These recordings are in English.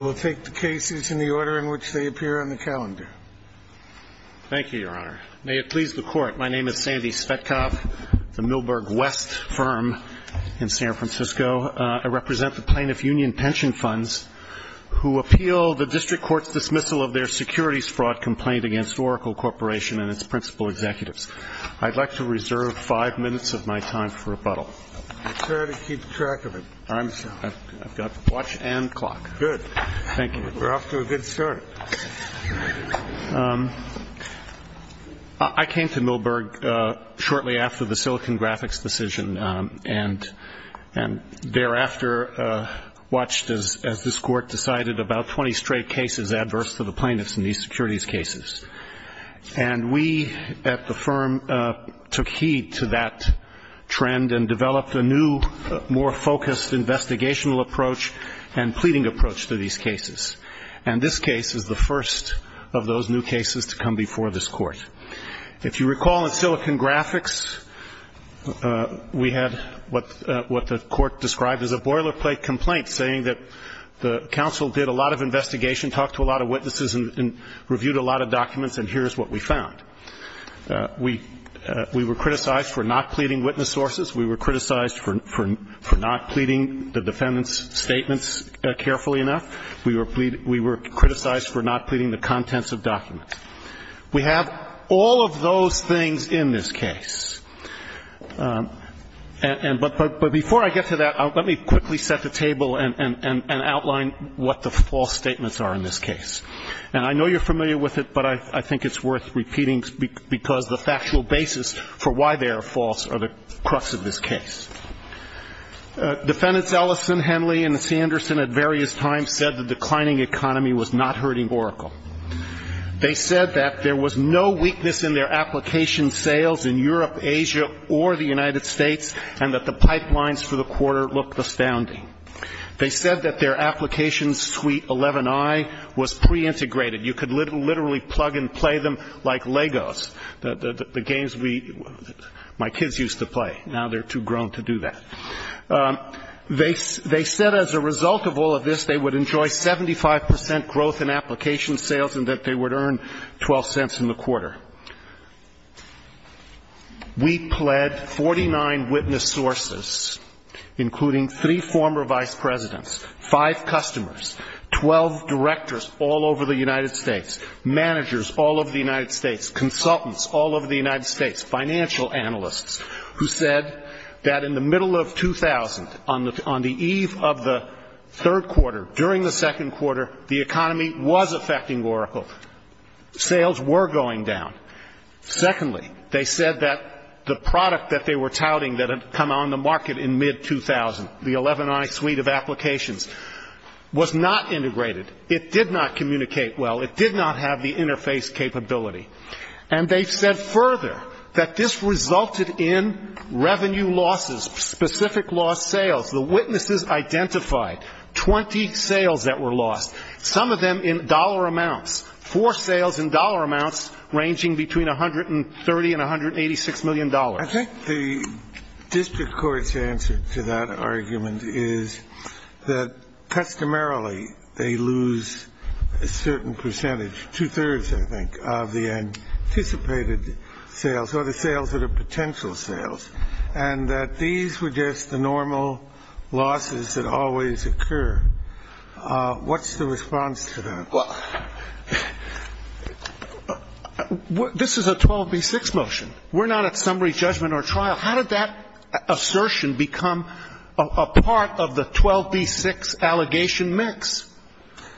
We'll take the cases in the order in which they appear on the calendar. Thank you, Your Honor. May it please the Court, my name is Sandy Svetkov, the Milberg West firm in San Francisco. I represent the plaintiff union pension funds who appeal the district court's dismissal of their securities fraud complaint against Oracle Corporation and its principal executives. I'd like to reserve five minutes of my time for rebuttal. I'll try to keep track of it. I've got the watch and clock. Good. Thank you. We're off to a good start. I came to Milberg shortly after the Silicon Graphics decision and thereafter watched as this court decided about 20 straight cases adverse to the plaintiffs in these securities cases. And we at the firm took heed to that trend and developed a new, more focused investigational approach and pleading approach to these cases. And this case is the first of those new cases to come before this court. If you recall in Silicon Graphics, we had what the court described as a boilerplate complaint, saying that the counsel did a lot of investigation, talked to a lot of witnesses, and reviewed a lot of documents, and here's what we found. We were criticized for not pleading witness sources. We were criticized for not pleading the defendant's statements carefully enough. We were criticized for not pleading the contents of documents. We have all of those things in this case. But before I get to that, let me quickly set the table and outline what the false statements are in this case. And I know you're familiar with it, but I think it's worth repeating, because the factual basis for why they are false are the crux of this case. Defendants Ellison, Henley, and Sanderson at various times said the declining economy was not hurting Oracle. They said that there was no weakness in their application sales in Europe, Asia, or the United States, and that the pipelines for the quarter looked astounding. They said that their application suite 11i was preintegrated. You could literally plug and play them like Legos, the games my kids used to play. Now they're too grown to do that. They said as a result of all of this, they would enjoy 75 percent growth in application sales and that they would earn 12 cents in the quarter. We pled 49 witness sources, including three former vice presidents, five customers, 12 directors all over the United States, managers all over the United States, consultants all over the United States, financial analysts, who said that in the middle of 2000, on the eve of the third quarter, during the second quarter, the economy was affecting Oracle. Sales were going down. Secondly, they said that the product that they were touting that had come on the market in mid-2000, the 11i suite of applications, was not integrated. It did not communicate well. It did not have the interface capability. And they've said further that this resulted in revenue losses, specific lost sales. The witnesses identified 20 sales that were lost, some of them in dollar amounts, four sales in dollar amounts ranging between $130 million and $186 million. I think the district court's answer to that argument is that customarily they lose a certain percentage, two-thirds, I think, of the anticipated sales, or the sales that are potential sales, and that these were just the normal losses that always occur. What's the response to that? This is a 12b-6 motion. We're not at summary judgment or trial. How did that assertion become a part of the 12b-6 allegation mix?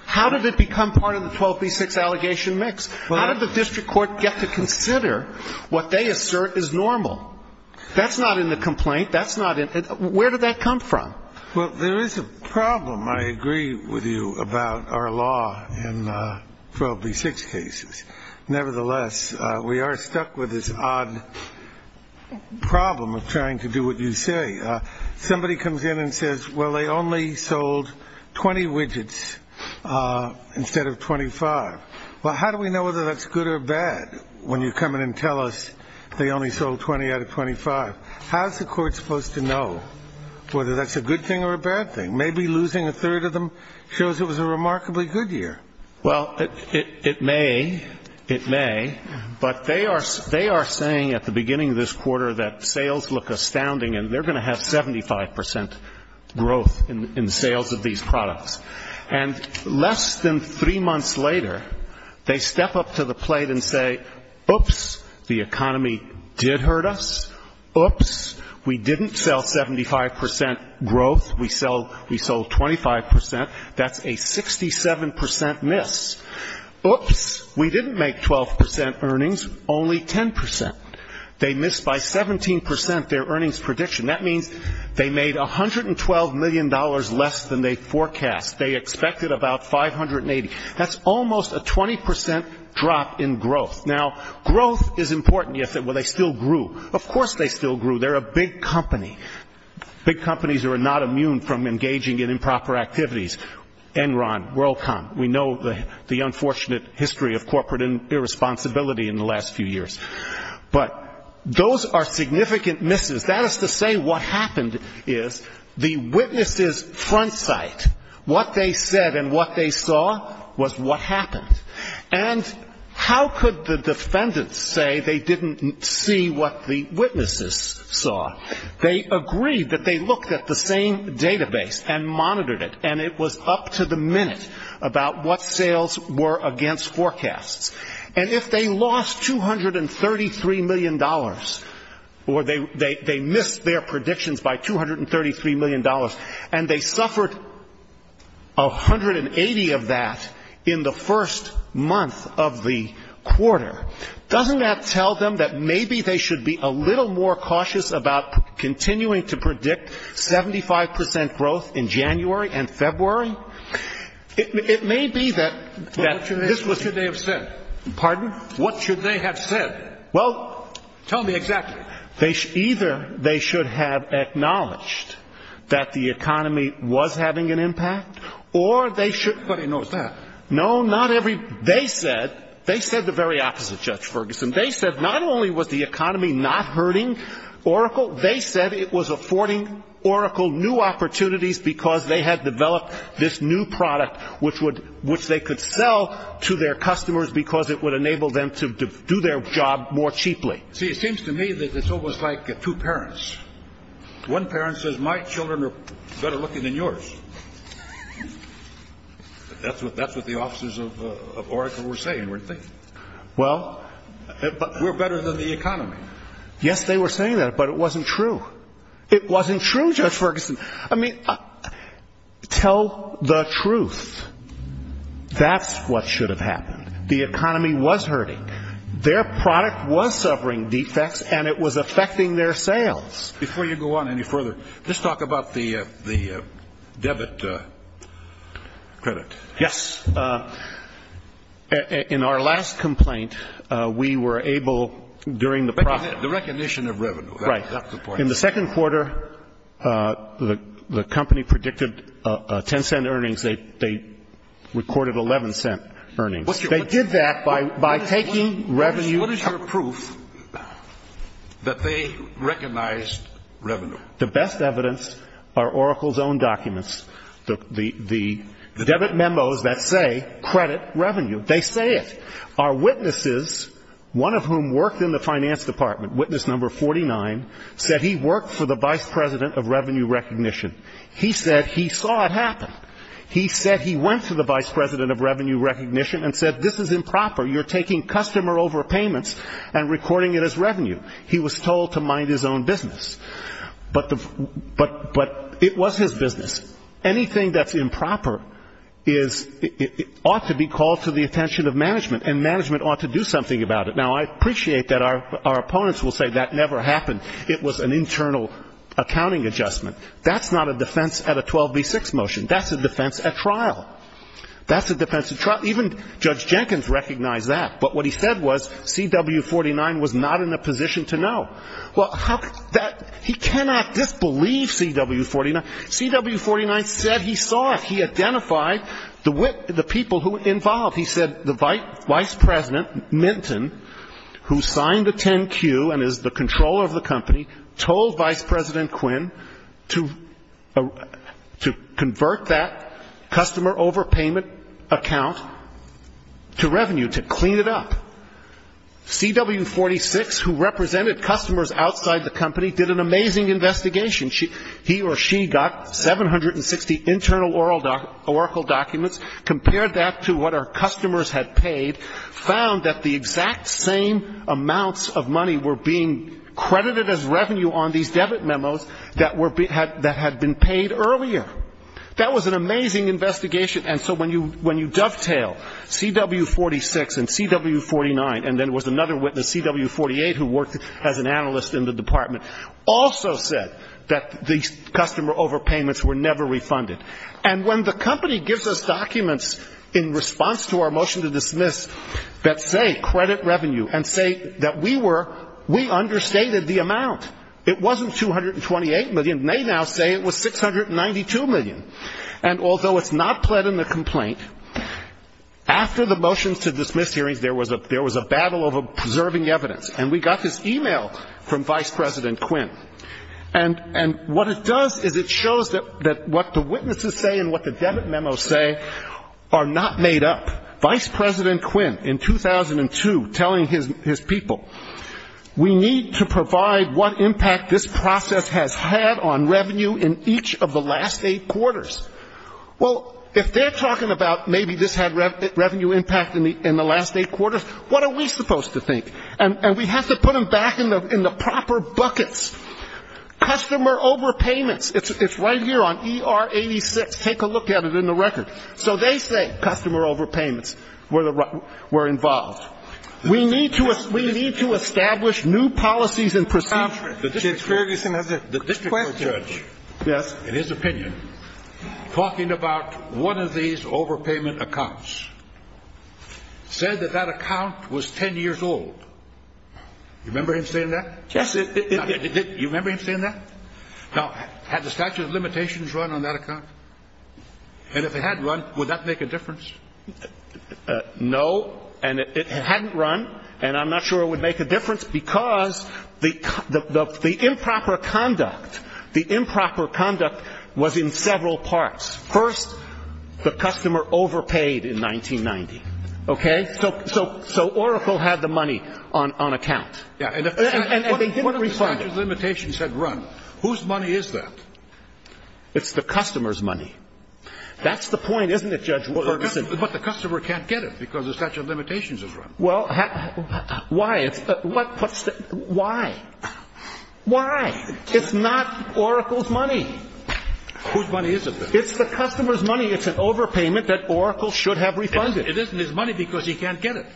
How did it become part of the 12b-6 allegation mix? How did the district court get to consider what they assert is normal? That's not in the complaint. That's not in the -- where did that come from? Well, there is a problem, I agree with you, about our law in 12b-6 cases. Nevertheless, we are stuck with this odd problem of trying to do what you say. Somebody comes in and says, well, they only sold 20 widgets instead of 25. Well, how do we know whether that's good or bad when you come in and tell us they only sold 20 out of 25? How is the court supposed to know whether that's a good thing or a bad thing? Maybe losing a third of them shows it was a remarkably good year. Well, it may. It may. But they are saying at the beginning of this quarter that sales look astounding and they're going to have 75 percent growth in sales of these products. And less than three months later, they step up to the plate and say, oops, the economy did hurt us. Oops, we didn't sell 75 percent growth. We sold 25 percent. That's a 67 percent miss. Oops, we didn't make 12 percent earnings, only 10 percent. They missed by 17 percent their earnings prediction. That means they made $112 million less than they forecast. They expected about 580. That's almost a 20 percent drop in growth. Now, growth is important. You say, well, they still grew. Of course they still grew. They're a big company. Big companies are not immune from engaging in improper activities. Enron, WorldCom, we know the unfortunate history of corporate irresponsibility in the last few years. But those are significant misses. That is to say what happened is the witnesses' front sight, what they said and what they saw, was what happened. And how could the defendants say they didn't see what the witnesses saw? They agreed that they looked at the same database and monitored it, and it was up to the minute about what sales were against forecasts. And if they lost $233 million or they missed their predictions by $233 million and they suffered 180 of that in the first month of the quarter, doesn't that tell them that maybe they should be a little more cautious about continuing to predict 75 percent growth in January and February? It may be that this was the case. What should they have said? Pardon? What should they have said? Well, tell me exactly. Either they should have acknowledged that the economy was having an impact, or they should Nobody knows that. They said the very opposite, Judge Ferguson. They said not only was the economy not hurting Oracle, they said it was affording Oracle new opportunities because they had developed this new product which they could sell to their customers because it would enable them to do their job more cheaply. See, it seems to me that it's almost like two parents. One parent says, my children are better looking than yours. That's what the officers of Oracle were saying, weren't they? Well... We're better than the economy. Yes, they were saying that, but it wasn't true. It wasn't true, Judge Ferguson. I mean, tell the truth. That's what should have happened. The economy was hurting. Their product was suffering defects, and it was affecting their sales. Before you go on any further, just talk about the debit credit. Yes. In our last complaint, we were able, during the process... The recognition of revenue. Right. In the second quarter, the company predicted 10-cent earnings. They recorded 11-cent earnings. They did that by taking revenue... The best evidence are Oracle's own documents. The debit memos that say credit revenue, they say it. Our witnesses, one of whom worked in the finance department, witness number 49, said he worked for the vice president of revenue recognition. He said he saw it happen. He said he went to the vice president of revenue recognition and said, this is improper, you're taking customer overpayments and recording it as revenue. He was told to mind his own business. But it was his business. Anything that's improper ought to be called to the attention of management, and management ought to do something about it. Now, I appreciate that our opponents will say that never happened. It was an internal accounting adjustment. That's not a defense at a 12B6 motion. That's a defense at trial. That's a defense at trial. Even Judge Jenkins recognized that. But what he said was CW49 was not in a position to know. He cannot disbelieve CW49. CW49 said he saw it. He identified the people who were involved. He said the vice president, Minton, who signed a 10Q and is the controller of the company, told Vice President Quinn to convert that customer overpayment account to revenue, to clean it up. CW46, who represented customers outside the company, did an amazing investigation. He or she got 760 internal Oracle documents, compared that to what our customers had paid, found that the exact same amounts of money were being credited as revenue on these debit memos that had been paid earlier. That was an amazing investigation. And so when you dovetail CW46 and CW49, and then there was another witness, CW48, who worked as an analyst in the department, also said that the customer overpayments were never refunded. And when the company gives us documents in response to our motion to dismiss that say credit revenue and say that we were, we understated the amount. It wasn't $228 million. They now say it was $692 million. And although it's not pled in the complaint, after the motions to dismiss hearings, there was a battle over preserving evidence. And we got this e-mail from Vice President Quinn. And what it does is it shows that what the witnesses say and what the debit memos say are not made up. Vice President Quinn, in 2002, telling his people, we need to provide what impact this process has had on revenue in each of the last eight quarters. Well, if they're talking about maybe this had revenue impact in the last eight quarters, what are we supposed to think? And we have to put them back in the proper buckets. Customer overpayments, it's right here on ER86. Take a look at it in the record. So they say customer overpayments were involved. We need to establish new policies and procedures. The district court judge, in his opinion, talking about one of these overpayment accounts, said that that account was 10 years old. You remember him saying that? Yes. You remember him saying that? Now, had the statute of limitations run on that account? And if it had run, would that make a difference? No. And it hadn't run. And I'm not sure it would make a difference because the improper conduct, the improper conduct was in several parts. First, the customer overpaid in 1990. Okay? So Oracle had the money on account. And they didn't refund it. What if the statute of limitations had run? Whose money is that? It's the customer's money. That's the point, isn't it, Judge Ferguson? But the customer can't get it because the statute of limitations has run. Well, why? Why? Why? It's not Oracle's money. Whose money is it? It's the customer's money. It's an overpayment that Oracle should have refunded. It isn't his money because he can't get it.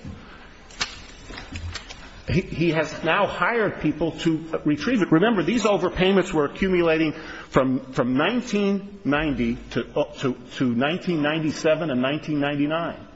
He has now hired people to retrieve it. Remember, these overpayments were accumulating from 1990 to 1997 and 1999.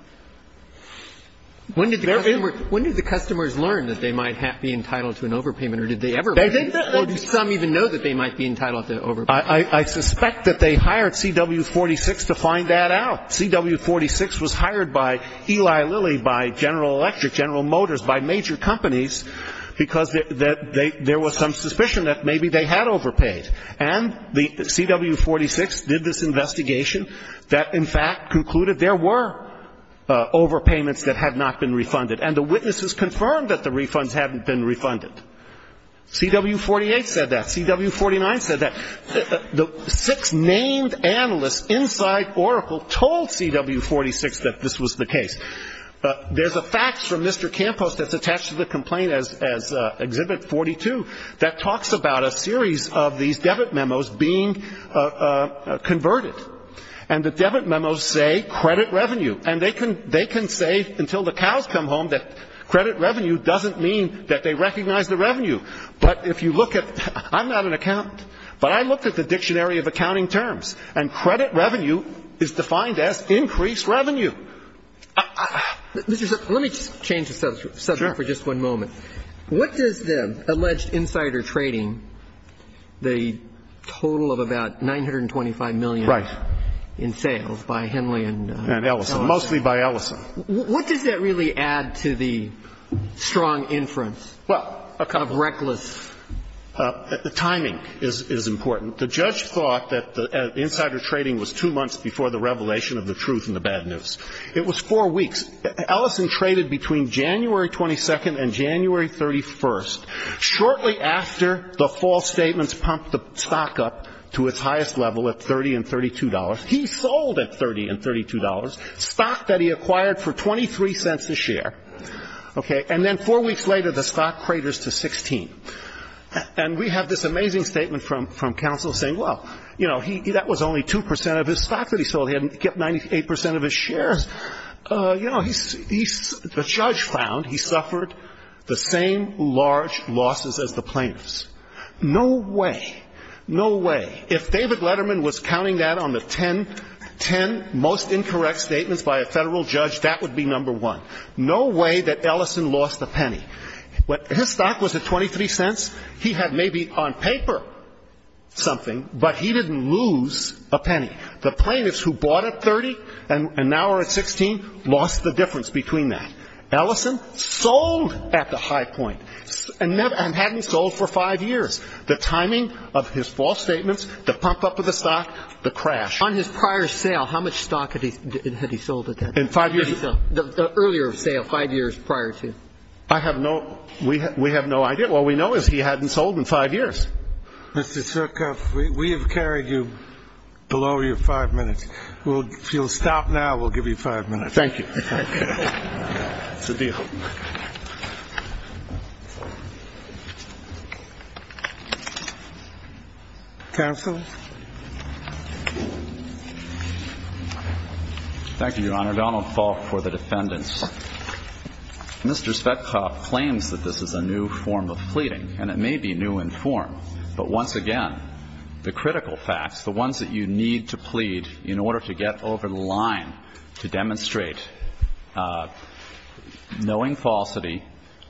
When did the customers learn that they might be entitled to an overpayment, or did they ever learn? Or do some even know that they might be entitled to an overpayment? I suspect that they hired CW46 to find that out. CW46 was hired by Eli Lilly, by General Electric, General Motors, by major companies because there was some suspicion that maybe they had overpaid. And the CW46 did this investigation that, in fact, concluded there were overpayments that had not been refunded. And the witnesses confirmed that the refunds hadn't been refunded. CW48 said that. CW49 said that. The six named analysts inside Oracle told CW46 that this was the case. There's a fax from Mr. Campos that's attached to the complaint as Exhibit 42 that talks about a series of these debit memos being converted. And the debit memos say credit revenue. And they can say, until the cows come home, that credit revenue doesn't mean that they recognize the revenue. But if you look at the dictionary of accounting terms, and credit revenue is defined as increased revenue. Let me just change the subject for just one moment. What does the alleged insider trading, the total of about $925 million in sales by Henley and Ellison. Mostly by Ellison. What does that really add to the strong inference of reckless. The timing is important. The judge thought that the insider trading was two months before the revelation of the truth and the bad news. It was four weeks. Ellison traded between January 22nd and January 31st. Shortly after, the false statements pumped the stock up to its highest level at $30 and $32. He sold at $30 and $32, stock that he acquired for 23 cents a share. And then four weeks later, the stock craters to 16. And we have this amazing statement from counsel saying, well, that was only 2% of his stock that he sold. He kept 98% of his shares. You know, the judge found he suffered the same large losses as the plaintiffs. No way. No way. If David Letterman was counting that on the ten most incorrect statements by a federal judge, that would be number one. No way that Ellison lost a penny. His stock was at 23 cents. He had maybe on paper something, but he didn't lose a penny. The plaintiffs who bought at 30 and now are at 16 lost the difference between that. Ellison sold at the high point and hadn't sold for five years. The timing of his false statements, the pump up of the stock, the crash. On his prior sale, how much stock had he sold at that point? In five years? The earlier sale, five years prior to. I have no ‑‑ we have no idea. All we know is he hadn't sold in five years. Mr. Svetkoff, we have carried you below your five minutes. If you'll stop now, we'll give you five minutes. Thank you. It's a deal. Counsel? Thank you, Your Honor. Donald Faulk for the defendants. Mr. Svetkoff claims that this is a new form of pleading, and it may be new in form. But once again, the critical facts, the ones that you need to plead in order to get over the line to demonstrate knowing falsity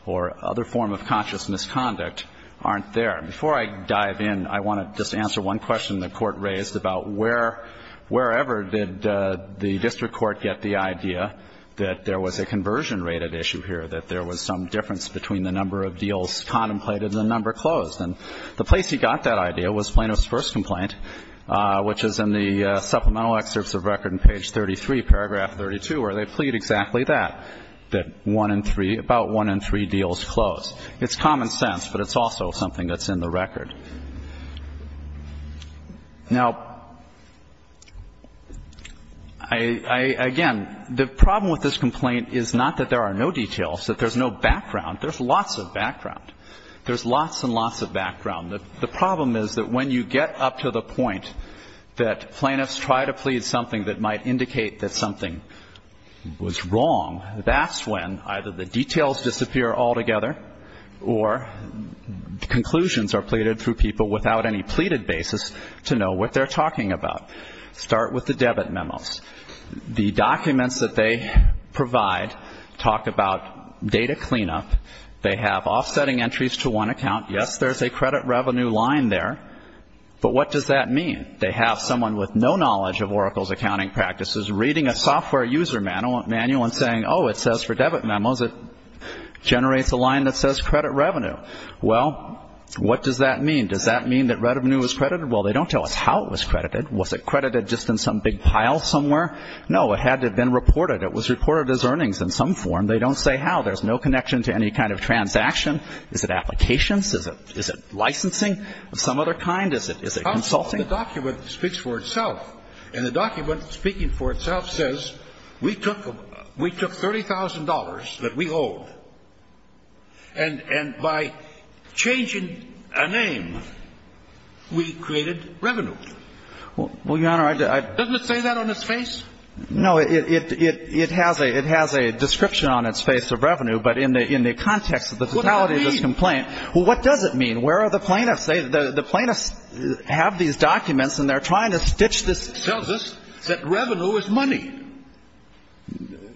or other form of conscious misconduct aren't there. Before I dive in, I want to just answer one question the Court raised about where, wherever did the district court get the idea that there was a conversion‑rated issue here, that there was some difference between the number of deals contemplated and the number closed. And the place he got that idea was Plano's first complaint, which is in the supplemental excerpts of record in page 33, paragraph 32, where they plead exactly that, that one in three, about one in three deals closed. It's common sense, but it's also something that's in the record. Now, again, the problem with this complaint is not that there are no details, that there's no background. There's lots of background. There's lots and lots of background. The problem is that when you get up to the point that plaintiffs try to plead something that might indicate that something was wrong, that's when either the details disappear altogether or conclusions are pleaded through people without any pleaded basis to know what they're talking about. Start with the debit memos. The documents that they provide talk about data cleanup. They have offsetting entries to one account. Yes, there's a credit revenue line there, but what does that mean? They have someone with no knowledge of Oracle's accounting practices reading a software user manual and saying, oh, it says for debit memos it generates a line that says credit revenue. Well, what does that mean? Does that mean that revenue is credited? Well, they don't tell us how it was credited. Was it credited just in some big pile somewhere? No, it had to have been reported. It was reported as earnings in some form. They don't say how. There's no connection to any kind of transaction. Is it applications? Is it licensing of some other kind? Is it consulting? The document speaks for itself. And the document speaking for itself says we took $30,000 that we owed, and by changing a name, we created revenue. Well, Your Honor, I didn't. Doesn't it say that on its face? No, it has a description on its face of revenue, but in the context of the totality of this complaint. Well, what does it mean? Well, what does it mean? Where are the plaintiffs? The plaintiffs have these documents, and they're trying to stitch this. It tells us that revenue is money.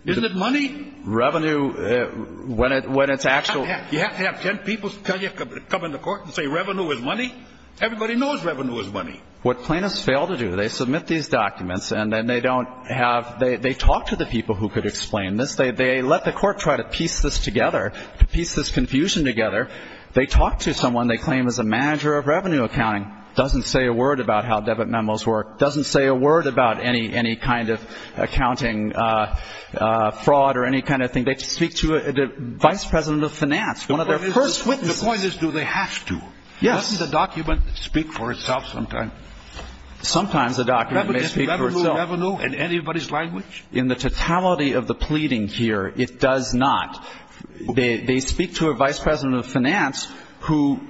Isn't it money? Revenue, when it's actual. You have to have 10 people come in the court and say revenue is money? Everybody knows revenue is money. What plaintiffs fail to do, they submit these documents, and then they don't have they talk to the people who could explain this. They let the court try to piece this together, to piece this confusion together. They talk to someone they claim is a manager of revenue accounting, doesn't say a word about how debit memos work, doesn't say a word about any kind of accounting fraud or any kind of thing. They speak to the vice president of finance, one of their first witnesses. The point is, do they have to? Yes. Doesn't the document speak for itself sometimes? Sometimes the document may speak for itself. Revenue in anybody's language? In the totality of the pleading here, it does not. They speak to a vice president of finance who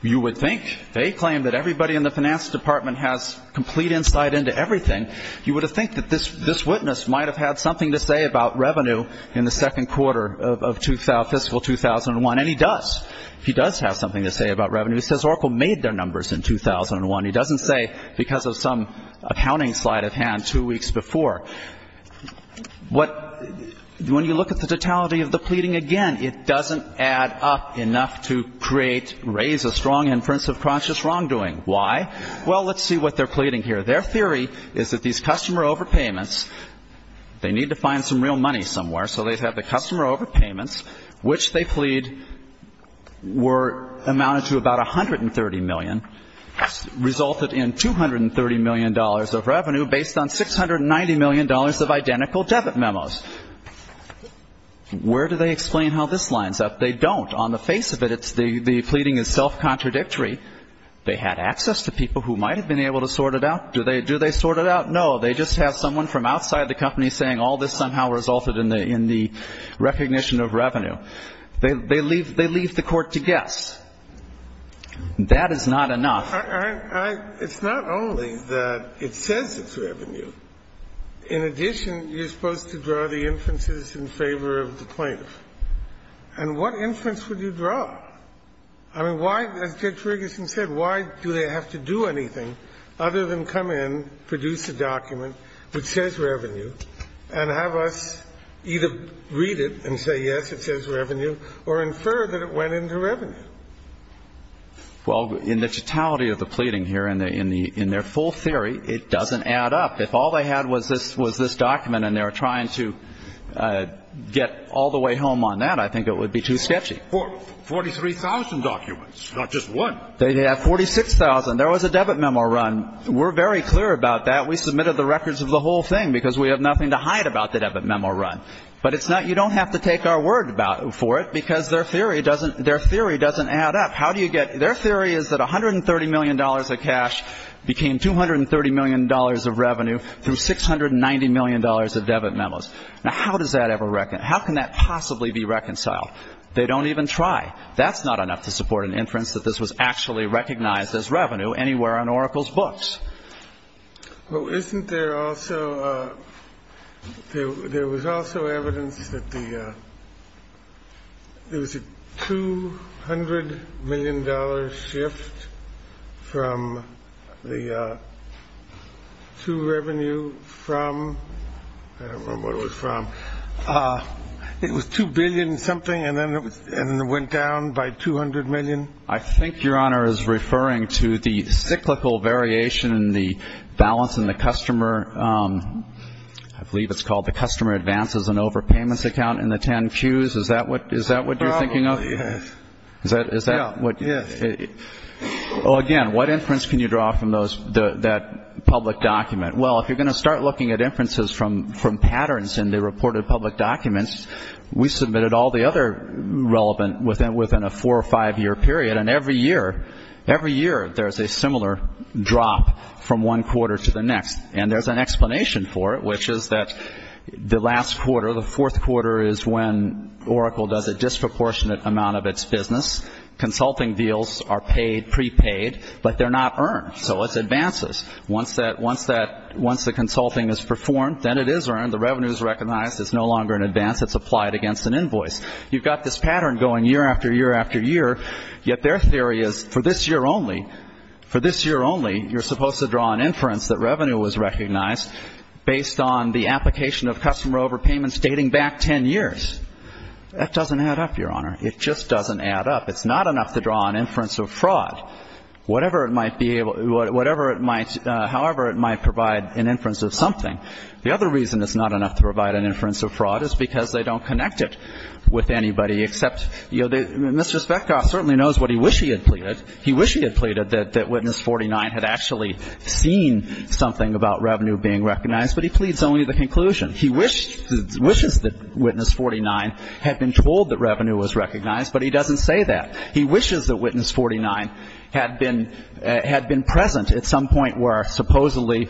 you would think, they claim that everybody in the finance department has complete insight into everything. You would think that this witness might have had something to say about revenue in the second quarter of fiscal 2001, and he does. He does have something to say about revenue. He says Oracle made their numbers in 2001. He doesn't say because of some accounting slight of hand two weeks before. When you look at the totality of the pleading again, it doesn't add up enough to create, raise a strong inference of conscious wrongdoing. Why? Well, let's see what they're pleading here. Their theory is that these customer overpayments, they need to find some real money somewhere, so they have the customer overpayments, which they plead were amounted to about $130 million, resulted in $230 million of revenue based on $690 million of identical debit memos. Where do they explain how this lines up? They don't. On the face of it, the pleading is self-contradictory. They had access to people who might have been able to sort it out. Do they sort it out? No. They just have someone from outside the company saying all this somehow resulted in the recognition of revenue. They leave the court to guess. That is not enough. It's not only that it says it's revenue. In addition, you're supposed to draw the inferences in favor of the plaintiff. And what inference would you draw? I mean, why, as Judge Ferguson said, why do they have to do anything other than come in, produce a document which says revenue, and have us either read it and say, yes, it says revenue, or infer that it went into revenue? Well, in the totality of the pleading here, in their full theory, it doesn't add up. If all they had was this document and they were trying to get all the way home on that, I think it would be too sketchy. 43,000 documents, not just one. They have 46,000. There was a debit memo run. We're very clear about that. We submitted the records of the whole thing because we have nothing to hide about the debit memo run. But it's not you don't have to take our word for it because their theory doesn't add up. How do you get – their theory is that $130 million of cash became $230 million of revenue through $690 million of debit memos. Now, how does that ever – how can that possibly be reconciled? They don't even try. That's not enough to support an inference that this was actually recognized as revenue anywhere on Oracle's books. Well, isn't there also – there was also evidence that the – there was a $200 million shift from the – to revenue from – I don't remember what it was from. It was $2 billion something and then it went down by $200 million? I think Your Honor is referring to the cyclical variation in the balance in the customer – I believe it's called the customer advances and overpayments account in the 10 Qs. Is that what you're thinking of? Probably, yes. Is that what – Yes. Well, again, what inference can you draw from those – that public document? Well, if you're going to start looking at inferences from patterns in the reported public documents, we submitted all the other relevant within a four- or five-year period, and every year there's a similar drop from one quarter to the next. And there's an explanation for it, which is that the last quarter, the fourth quarter, is when Oracle does a disproportionate amount of its business. Consulting deals are paid, prepaid, but they're not earned. So it's advances. Once the consulting is performed, then it is earned. The revenue is recognized. It's no longer an advance. It's applied against an invoice. You've got this pattern going year after year after year, yet their theory is for this year only, for this year only you're supposed to draw an inference that revenue was recognized based on the application of customer overpayments dating back 10 years. That doesn't add up, Your Honor. It just doesn't add up. It's not enough to draw an inference of fraud. Whatever it might be able – whatever it might – however it might provide an inference of something. The other reason it's not enough to provide an inference of fraud is because they don't connect it with anybody, except, you know, Mr. Svetkoff certainly knows what he wished he had pleaded. He wished he had pleaded that Witness 49 had actually seen something about revenue being recognized, but he pleads only the conclusion. He wished – wishes that Witness 49 had been told that revenue was recognized, but he doesn't say that. He wishes that Witness 49 had been – had been present at some point where supposedly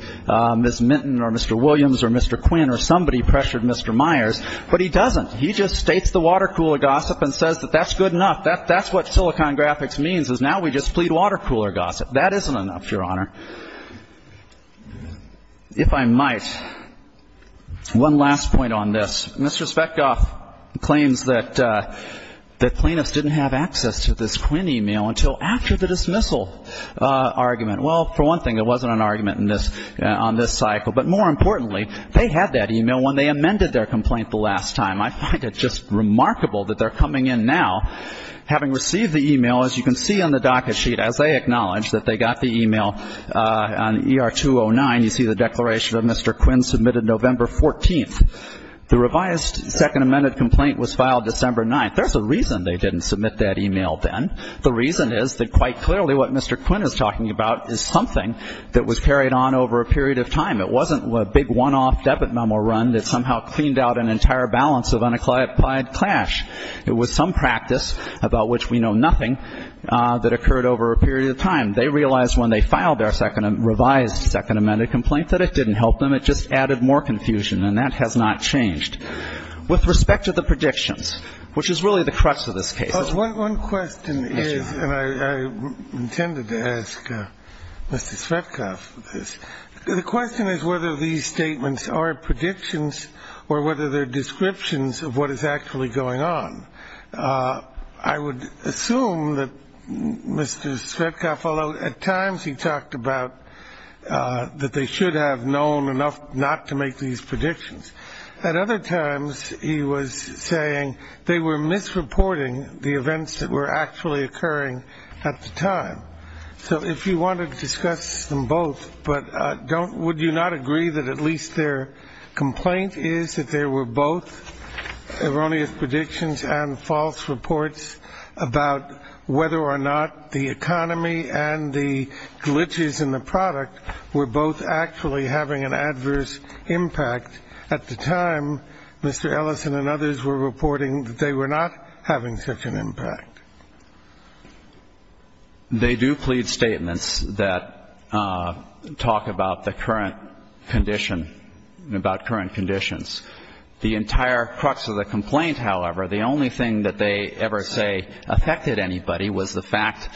Ms. Minton or Mr. Williams or Mr. Quinn or somebody pressured Mr. Myers, but he doesn't. He just states the water cooler gossip and says that that's good enough. That's what Silicon Graphics means is now we just plead water cooler gossip. That isn't enough, Your Honor. If I might, one last point on this. Mr. Svetkoff claims that the plaintiffs didn't have access to this Quinn e-mail until after the dismissal argument. Well, for one thing, there wasn't an argument in this – on this cycle. But more importantly, they had that e-mail when they amended their complaint the last time. I find it just remarkable that they're coming in now having received the e-mail. As you can see on the docket sheet, as they acknowledge that they got the e-mail on ER 209, you see the declaration of Mr. Quinn submitted November 14th. The revised second amended complaint was filed December 9th. There's a reason they didn't submit that e-mail then. The reason is that quite clearly what Mr. Quinn is talking about is something that was carried on over a period of time. It wasn't a big one-off debit memo run that somehow cleaned out an entire balance of unaccomplished clash. It was some practice about which we know nothing that occurred over a period of time. They realized when they filed their second – revised second amended complaint that it didn't help them. It just added more confusion, and that has not changed. With respect to the predictions, which is really the crux of this case. One question is – and I intended to ask Mr. Shvetkov this. The question is whether these statements are predictions or whether they're descriptions of what is actually going on. I would assume that Mr. Shvetkov, although at times he talked about that they should have known enough not to make these predictions, at other times he was saying they were misreporting the events that were actually occurring at the time. So if you want to discuss them both, but would you not agree that at least their complaint is that there were both erroneous predictions and false reports about whether or not the economy and the glitches in the product were both actually having an adverse impact at the time Mr. Ellison and others were reporting that they were not having such an impact? They do plead statements that talk about the current condition – about current conditions. The entire crux of the complaint, however, the only thing that they ever say affected anybody was the fact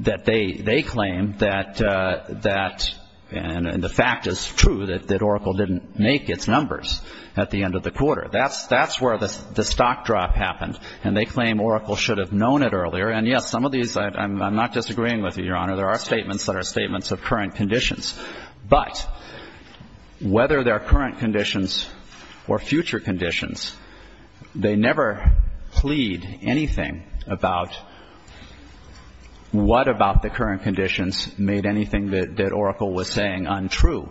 that they claim that – and the fact is true that Oracle didn't make its numbers at the end of the quarter. That's where the stock drop happened. And they claim Oracle should have known it earlier. And, yes, some of these I'm not disagreeing with, Your Honor. There are statements that are statements of current conditions. But whether they're current conditions or future conditions, they never plead anything about what about the current conditions made anything that Oracle was saying untrue.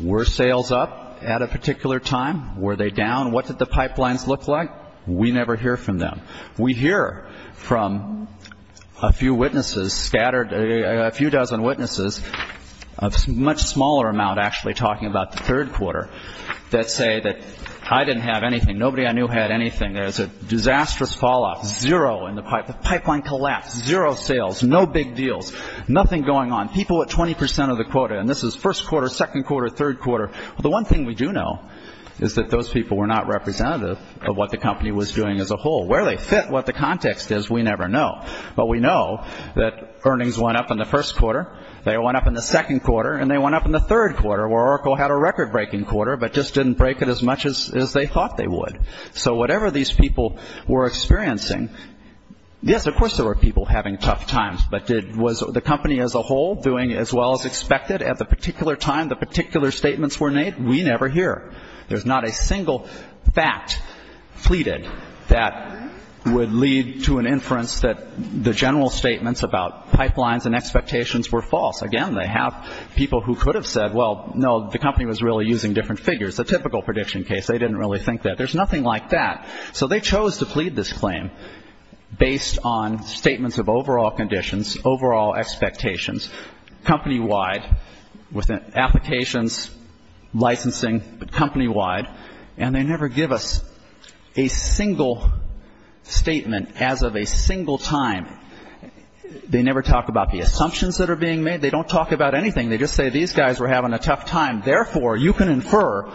Were sales up at a particular time? Were they down? What did the pipelines look like? We never hear from them. We hear from a few witnesses scattered – a few dozen witnesses, a much smaller amount actually talking about the third quarter that say that I didn't have anything. Nobody I knew had anything. There was a disastrous falloff. Zero in the pipeline. The pipeline collapsed. Zero sales. No big deals. Nothing going on. People at 20 percent of the quota. And this is first quarter, second quarter, third quarter. The one thing we do know is that those people were not representative of what the company was doing as a whole. Where they fit, what the context is, we never know. But we know that earnings went up in the first quarter. They went up in the second quarter. And they went up in the third quarter where Oracle had a record-breaking quarter but just didn't break it as much as they thought they would. So whatever these people were experiencing, yes, of course there were people having tough times. But was the company as a whole doing as well as expected at the particular time the particular statements were made? We never hear. There's not a single fact pleaded that would lead to an inference that the general statements about pipelines and expectations were false. Again, they have people who could have said, well, no, the company was really using different figures, a typical prediction case. They didn't really think that. There's nothing like that. So they chose to plead this claim based on statements of overall conditions, overall expectations, company-wide, with applications, licensing, company-wide. And they never give us a single statement as of a single time. They never talk about the assumptions that are being made. They don't talk about anything. They just say these guys were having a tough time. Therefore, you can infer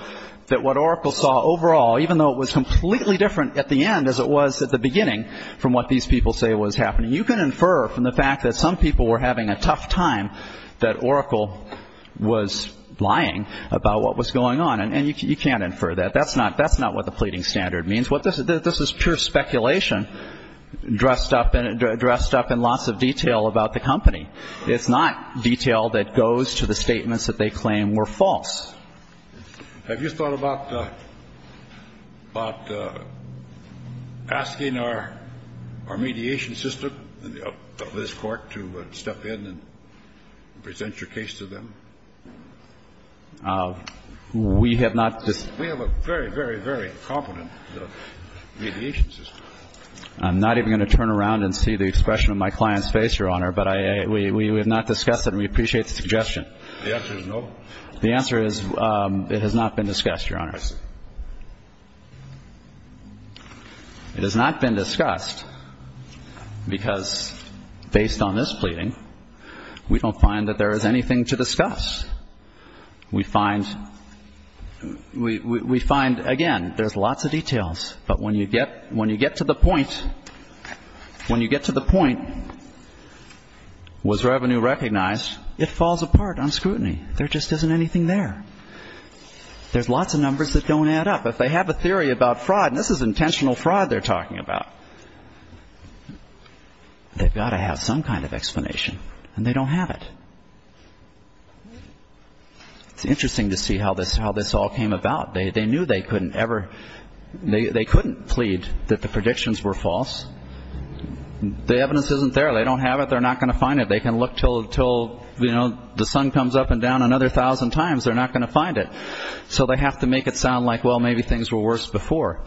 that what Oracle saw overall, even though it was completely different at the end as it was at the beginning from what these people say was happening, you can infer from the fact that some people were having a tough time that Oracle was lying about what was going on. And you can't infer that. That's not what the pleading standard means. This is pure speculation dressed up in lots of detail about the company. It's not detail that goes to the statements that they claim were false. Have you thought about asking our mediation system of this Court to step in and present your case to them? We have not. We have a very, very, very competent mediation system. I'm not even going to turn around and see the expression on my client's face, Your Honor, but we have not discussed it and we appreciate the suggestion. The answer is no? The answer is it has not been discussed, Your Honors. It has not been discussed because, based on this pleading, we don't find that there is anything to discuss. We find, again, there's lots of details, but when you get to the point, when you get to the point, was revenue recognized, it falls apart on scrutiny. There just isn't anything there. There's lots of numbers that don't add up. If they have a theory about fraud, and this is intentional fraud they're talking about, they've got to have some kind of explanation, and they don't have it. It's interesting to see how this all came about. They knew they couldn't plead that the predictions were false. The evidence isn't there. They don't have it. They're not going to find it. They can look until the sun comes up and down another thousand times. They're not going to find it. So they have to make it sound like, well, maybe things were worse before.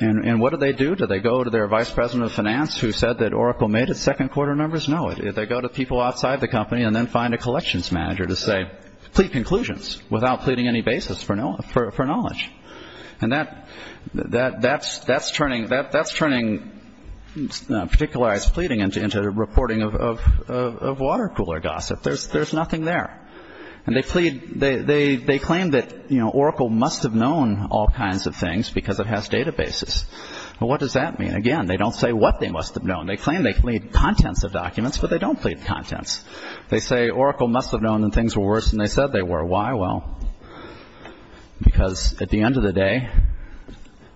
And what do they do? Do they go to their vice president of finance who said that Oracle made its second quarter numbers? No. They go to people outside the company and then find a collections manager to say, plead conclusions without pleading any basis for knowledge. And that's turning particularized pleading into reporting of water cooler gossip. There's nothing there. And they claim that Oracle must have known all kinds of things because it has databases. Well, what does that mean? Again, they don't say what they must have known. They claim they plead contents of documents, but they don't plead contents. They say Oracle must have known that things were worse than they said they were. Why? Well, because at the end of the day,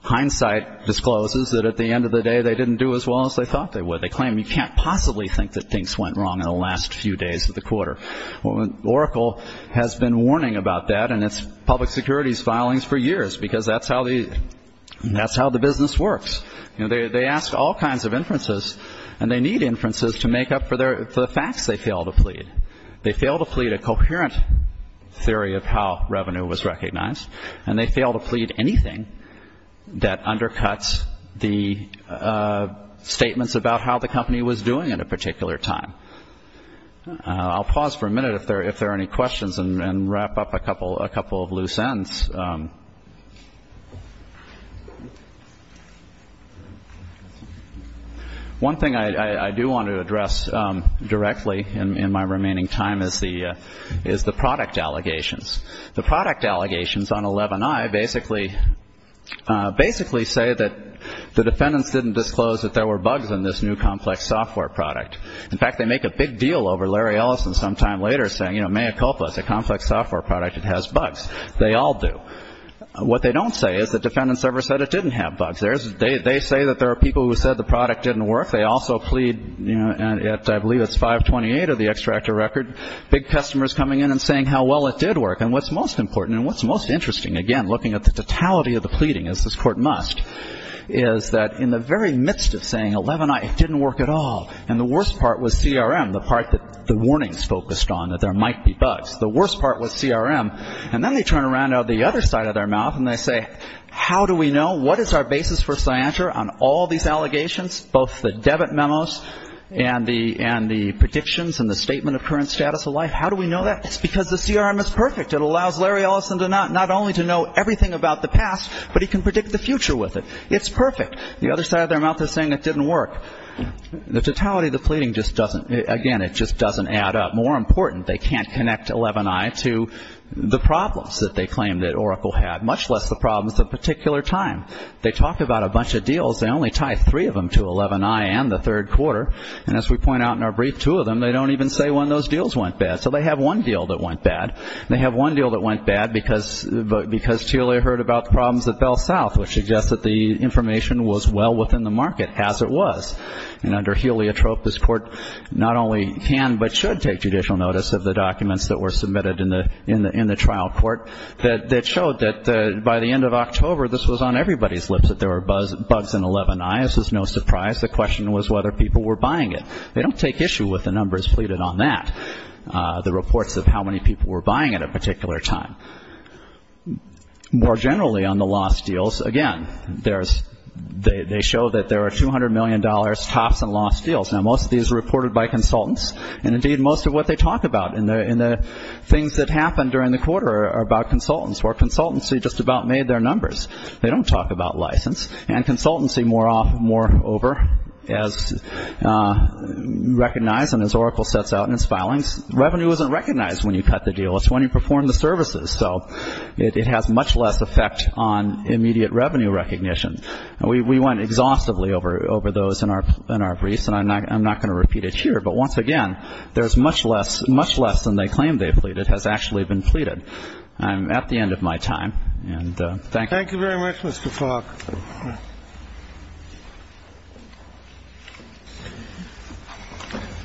hindsight discloses that at the end of the day, they didn't do as well as they thought they would. They claim you can't possibly think that things went wrong in the last few days of the quarter. Oracle has been warning about that in its public securities filings for years because that's how the business works. They ask all kinds of inferences, and they need inferences to make up for the facts they fail to plead. They fail to plead a coherent theory of how revenue was recognized, and they fail to plead anything that undercuts the statements about how the company was doing at a particular time. I'll pause for a minute if there are any questions and wrap up a couple of loose ends. One thing I do want to address directly in my remaining time is the product allegations. The product allegations on 11i basically say that the defendants didn't disclose that there were bugs in this new complex software product. In fact, they make a big deal over Larry Ellison sometime later saying, you know, Mayacopa is a complex software product. It has bugs. They all do. What they don't say is the defendants never said it didn't have bugs. They say that there are people who said the product didn't work. They also plead, you know, and I believe it's 528 of the extractor record, big customers coming in and saying how well it did work. And what's most important and what's most interesting, again, looking at the totality of the pleading, as this Court must, is that in the very midst of saying 11i, it didn't work at all, and the worst part was CRM, the part that the warnings focused on, that there might be bugs. The worst part was CRM. And then they turn around on the other side of their mouth and they say, how do we know? What is our basis for scienter on all these allegations, both the debit memos and the predictions and the statement of current status of life? How do we know that? It's because the CRM is perfect. It allows Larry Ellison not only to know everything about the past, but he can predict the future with it. It's perfect. The other side of their mouth is saying it didn't work. The totality of the pleading just doesn't, again, it just doesn't add up. More important, they can't connect 11i to the problems that they claim that Oracle had, much less the problems at a particular time. They talk about a bunch of deals. They only tie three of them to 11i and the third quarter. And as we point out in our brief, two of them, they don't even say when those deals went bad. So they have one deal that went bad. They have one deal that went bad because Telia heard about the problems at Bell South, which suggests that the information was well within the market, as it was. And under Heliotrope, this court not only can but should take judicial notice of the documents that were submitted in the trial court that showed that by the end of October, this was on everybody's lips, that there were bugs in 11i. This was no surprise. The question was whether people were buying it. They don't take issue with the numbers pleaded on that, the reports of how many people were buying it at a particular time. More generally on the lost deals, again, they show that there are $200 million tops in lost deals. Now, most of these are reported by consultants, and indeed most of what they talk about in the things that happened during the quarter are about consultants, where consultancy just about made their numbers. They don't talk about license. And consultancy moreover, as recognized and as Oracle sets out in its filings, revenue isn't recognized when you cut the deal. It's when you perform the services. So it has much less effect on immediate revenue recognition. We went exhaustively over those in our briefs, and I'm not going to repeat it here. But once again, there's much less than they claim they pleaded has actually been pleaded. I'm at the end of my time, and thank you. Thank you very much, Mr. Falk.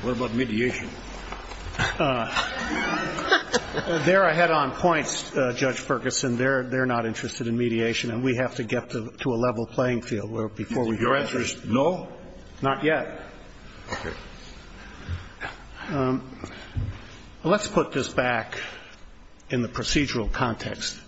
What about mediation? There are head-on points, Judge Ferguson. They're not interested in mediation, and we have to get to a level playing field where before we get there. Your answer is no? Not yet. Okay. Let's put this back in the procedural context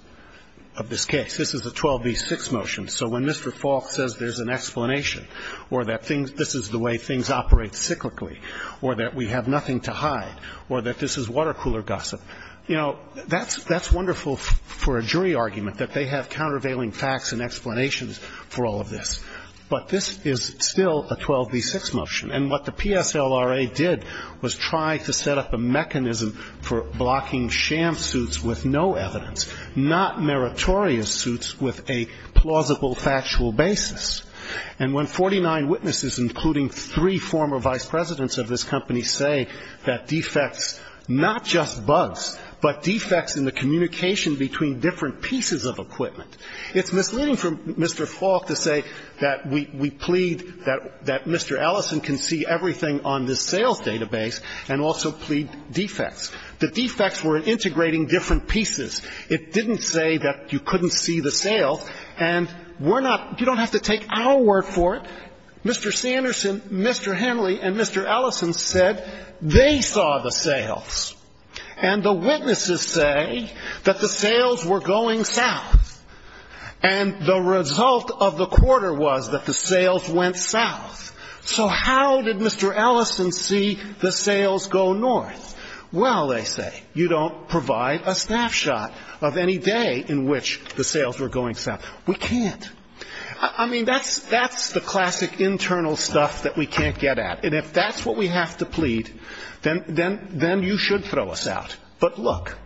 of this case. This is a 12b-6 motion. So when Mr. Falk says there's an explanation or that this is the way things operate cyclically or that we have nothing to hide or that this is water cooler gossip, you know, that's wonderful for a jury argument, that they have countervailing facts and explanations for all of this. But this is still a 12b-6 motion. And what the PSLRA did was try to set up a mechanism for blocking sham suits with no evidence, not meritorious suits with a plausible factual basis. And when 49 witnesses, including three former vice presidents of this company, say that defects not just bugs, but defects in the communication between different pieces of equipment, it's misleading for Mr. Falk to say that we plead that Mr. Ellison can see everything on this sales database and also plead defects. The defects were integrating different pieces. It didn't say that you couldn't see the sales. And we're not you don't have to take our word for it. Mr. Sanderson, Mr. Henley, and Mr. Ellison said they saw the sales. And the witnesses say that the sales were going south. And the result of the quarter was that the sales went south. So how did Mr. Ellison see the sales go north? Well, they say, you don't provide a snapshot of any day in which the sales were going south. We can't. I mean, that's the classic internal stuff that we can't get at. And if that's what we have to plead, then you should throw us out. But look,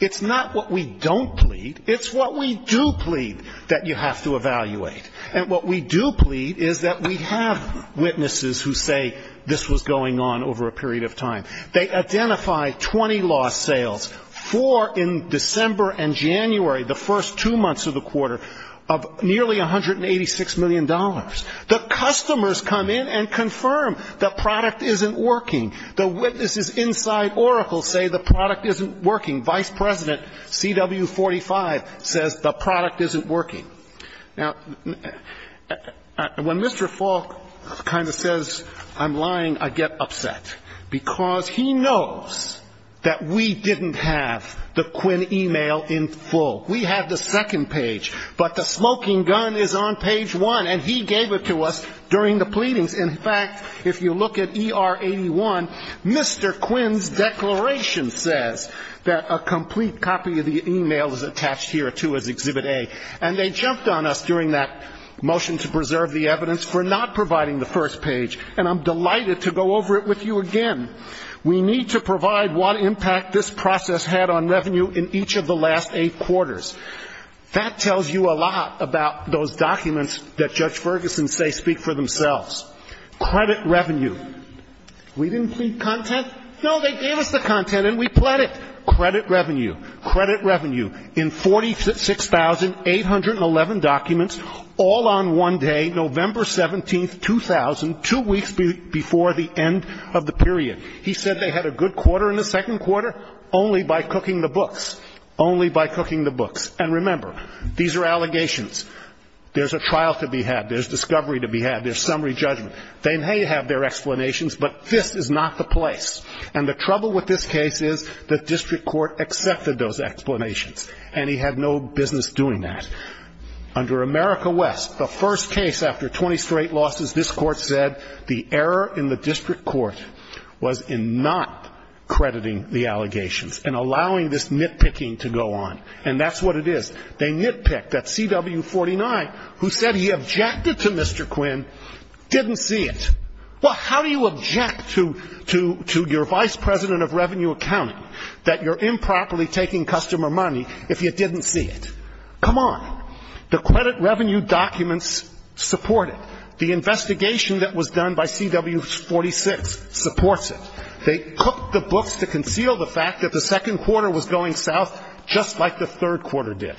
it's not what we don't plead. It's what we do plead that you have to evaluate. And what we do plead is that we have witnesses who say this was going on over a period of time. They identify 20 lost sales for in December and January, the first two months of the quarter, of nearly $186 million. The customers come in and confirm the product isn't working. The witnesses inside Oracle say the product isn't working. Vice President CW45 says the product isn't working. Now, when Mr. Falk kind of says I'm lying, I get upset. Because he knows that we didn't have the Quinn e-mail in full. We have the second page. But the smoking gun is on page one. And he gave it to us during the pleadings. In fact, if you look at ER81, Mr. Quinn's declaration says that a complete copy of the e-mail is attached here, too, as Exhibit A. And they jumped on us during that motion to preserve the evidence for not providing the first page. And I'm delighted to go over it with you again. We need to provide what impact this process had on revenue in each of the last eight quarters. That tells you a lot about those documents that Judge Ferguson say speak for themselves. Credit revenue. We didn't plead content. No, they gave us the content and we pled it. Credit revenue. Credit revenue. In 46,811 documents, all on one day, November 17, 2000, two weeks before the end of the period. He said they had a good quarter in the second quarter only by cooking the books. Only by cooking the books. And remember, these are allegations. There's a trial to be had. There's discovery to be had. There's summary judgment. They may have their explanations, but this is not the place. And the trouble with this case is the district court accepted those explanations. And he had no business doing that. Under America West, the first case after 20 straight losses, this court said the error in the district court was in not crediting the allegations and allowing this nitpicking to go on. And that's what it is. They nitpick. That CW 49 who said he objected to Mr. Quinn didn't see it. Well, how do you object to your vice president of revenue accounting that you're improperly taking customer money if you didn't see it? Come on. The credit revenue documents support it. The investigation that was done by CW 46 supports it. They cooked the books to conceal the fact that the second quarter was going south just like the third quarter did.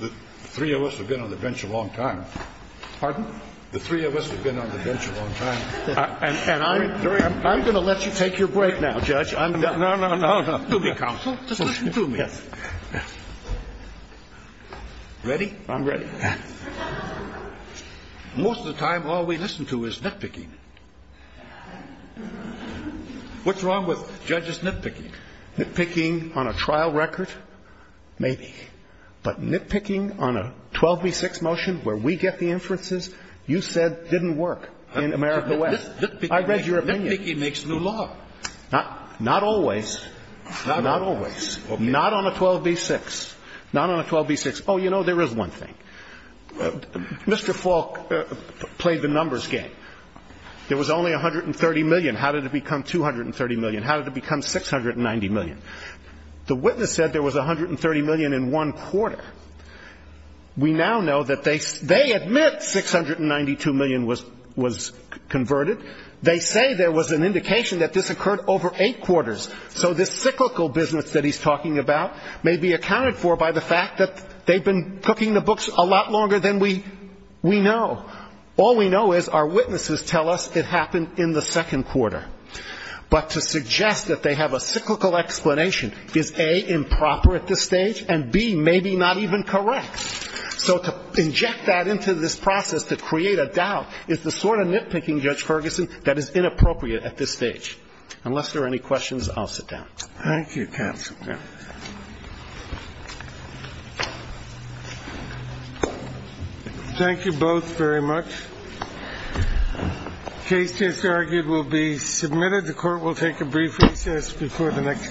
The three of us have been on the bench a long time. Pardon? The three of us have been on the bench a long time. And I'm going to let you take your break now, Judge. No, no, no, no. Do me, counsel. Just do me. Yes. Ready? I'm ready. Most of the time, all we listen to is nitpicking. What's wrong with judges nitpicking? Nitpicking on a trial record? Maybe. But nitpicking on a 12B6 motion where we get the inferences you said didn't work in America West. I read your opinion. Nitpicking makes new law. Not always. Not always. Not on a 12B6. Not on a 12B6. Oh, you know, there is one thing. Mr. Falk played the numbers game. There was only $130 million. How did it become $230 million? How did it become $690 million? The witness said there was $130 million in one quarter. We now know that they admit $692 million was converted. They say there was an indication that this occurred over eight quarters. So this cyclical business that he's talking about may be accounted for by the fact that they've been cooking the books a lot longer than we know. All we know is our witnesses tell us it happened in the second quarter. But to suggest that they have a cyclical explanation is, A, improper at this stage, and, B, maybe not even correct. So to inject that into this process to create a doubt is the sort of nitpicking, Judge Ferguson, that is inappropriate at this stage. Unless there are any questions, I'll sit down. Thank you, counsel. Thank you both very much. Case just argued will be submitted. The court will take a brief recess before the next case.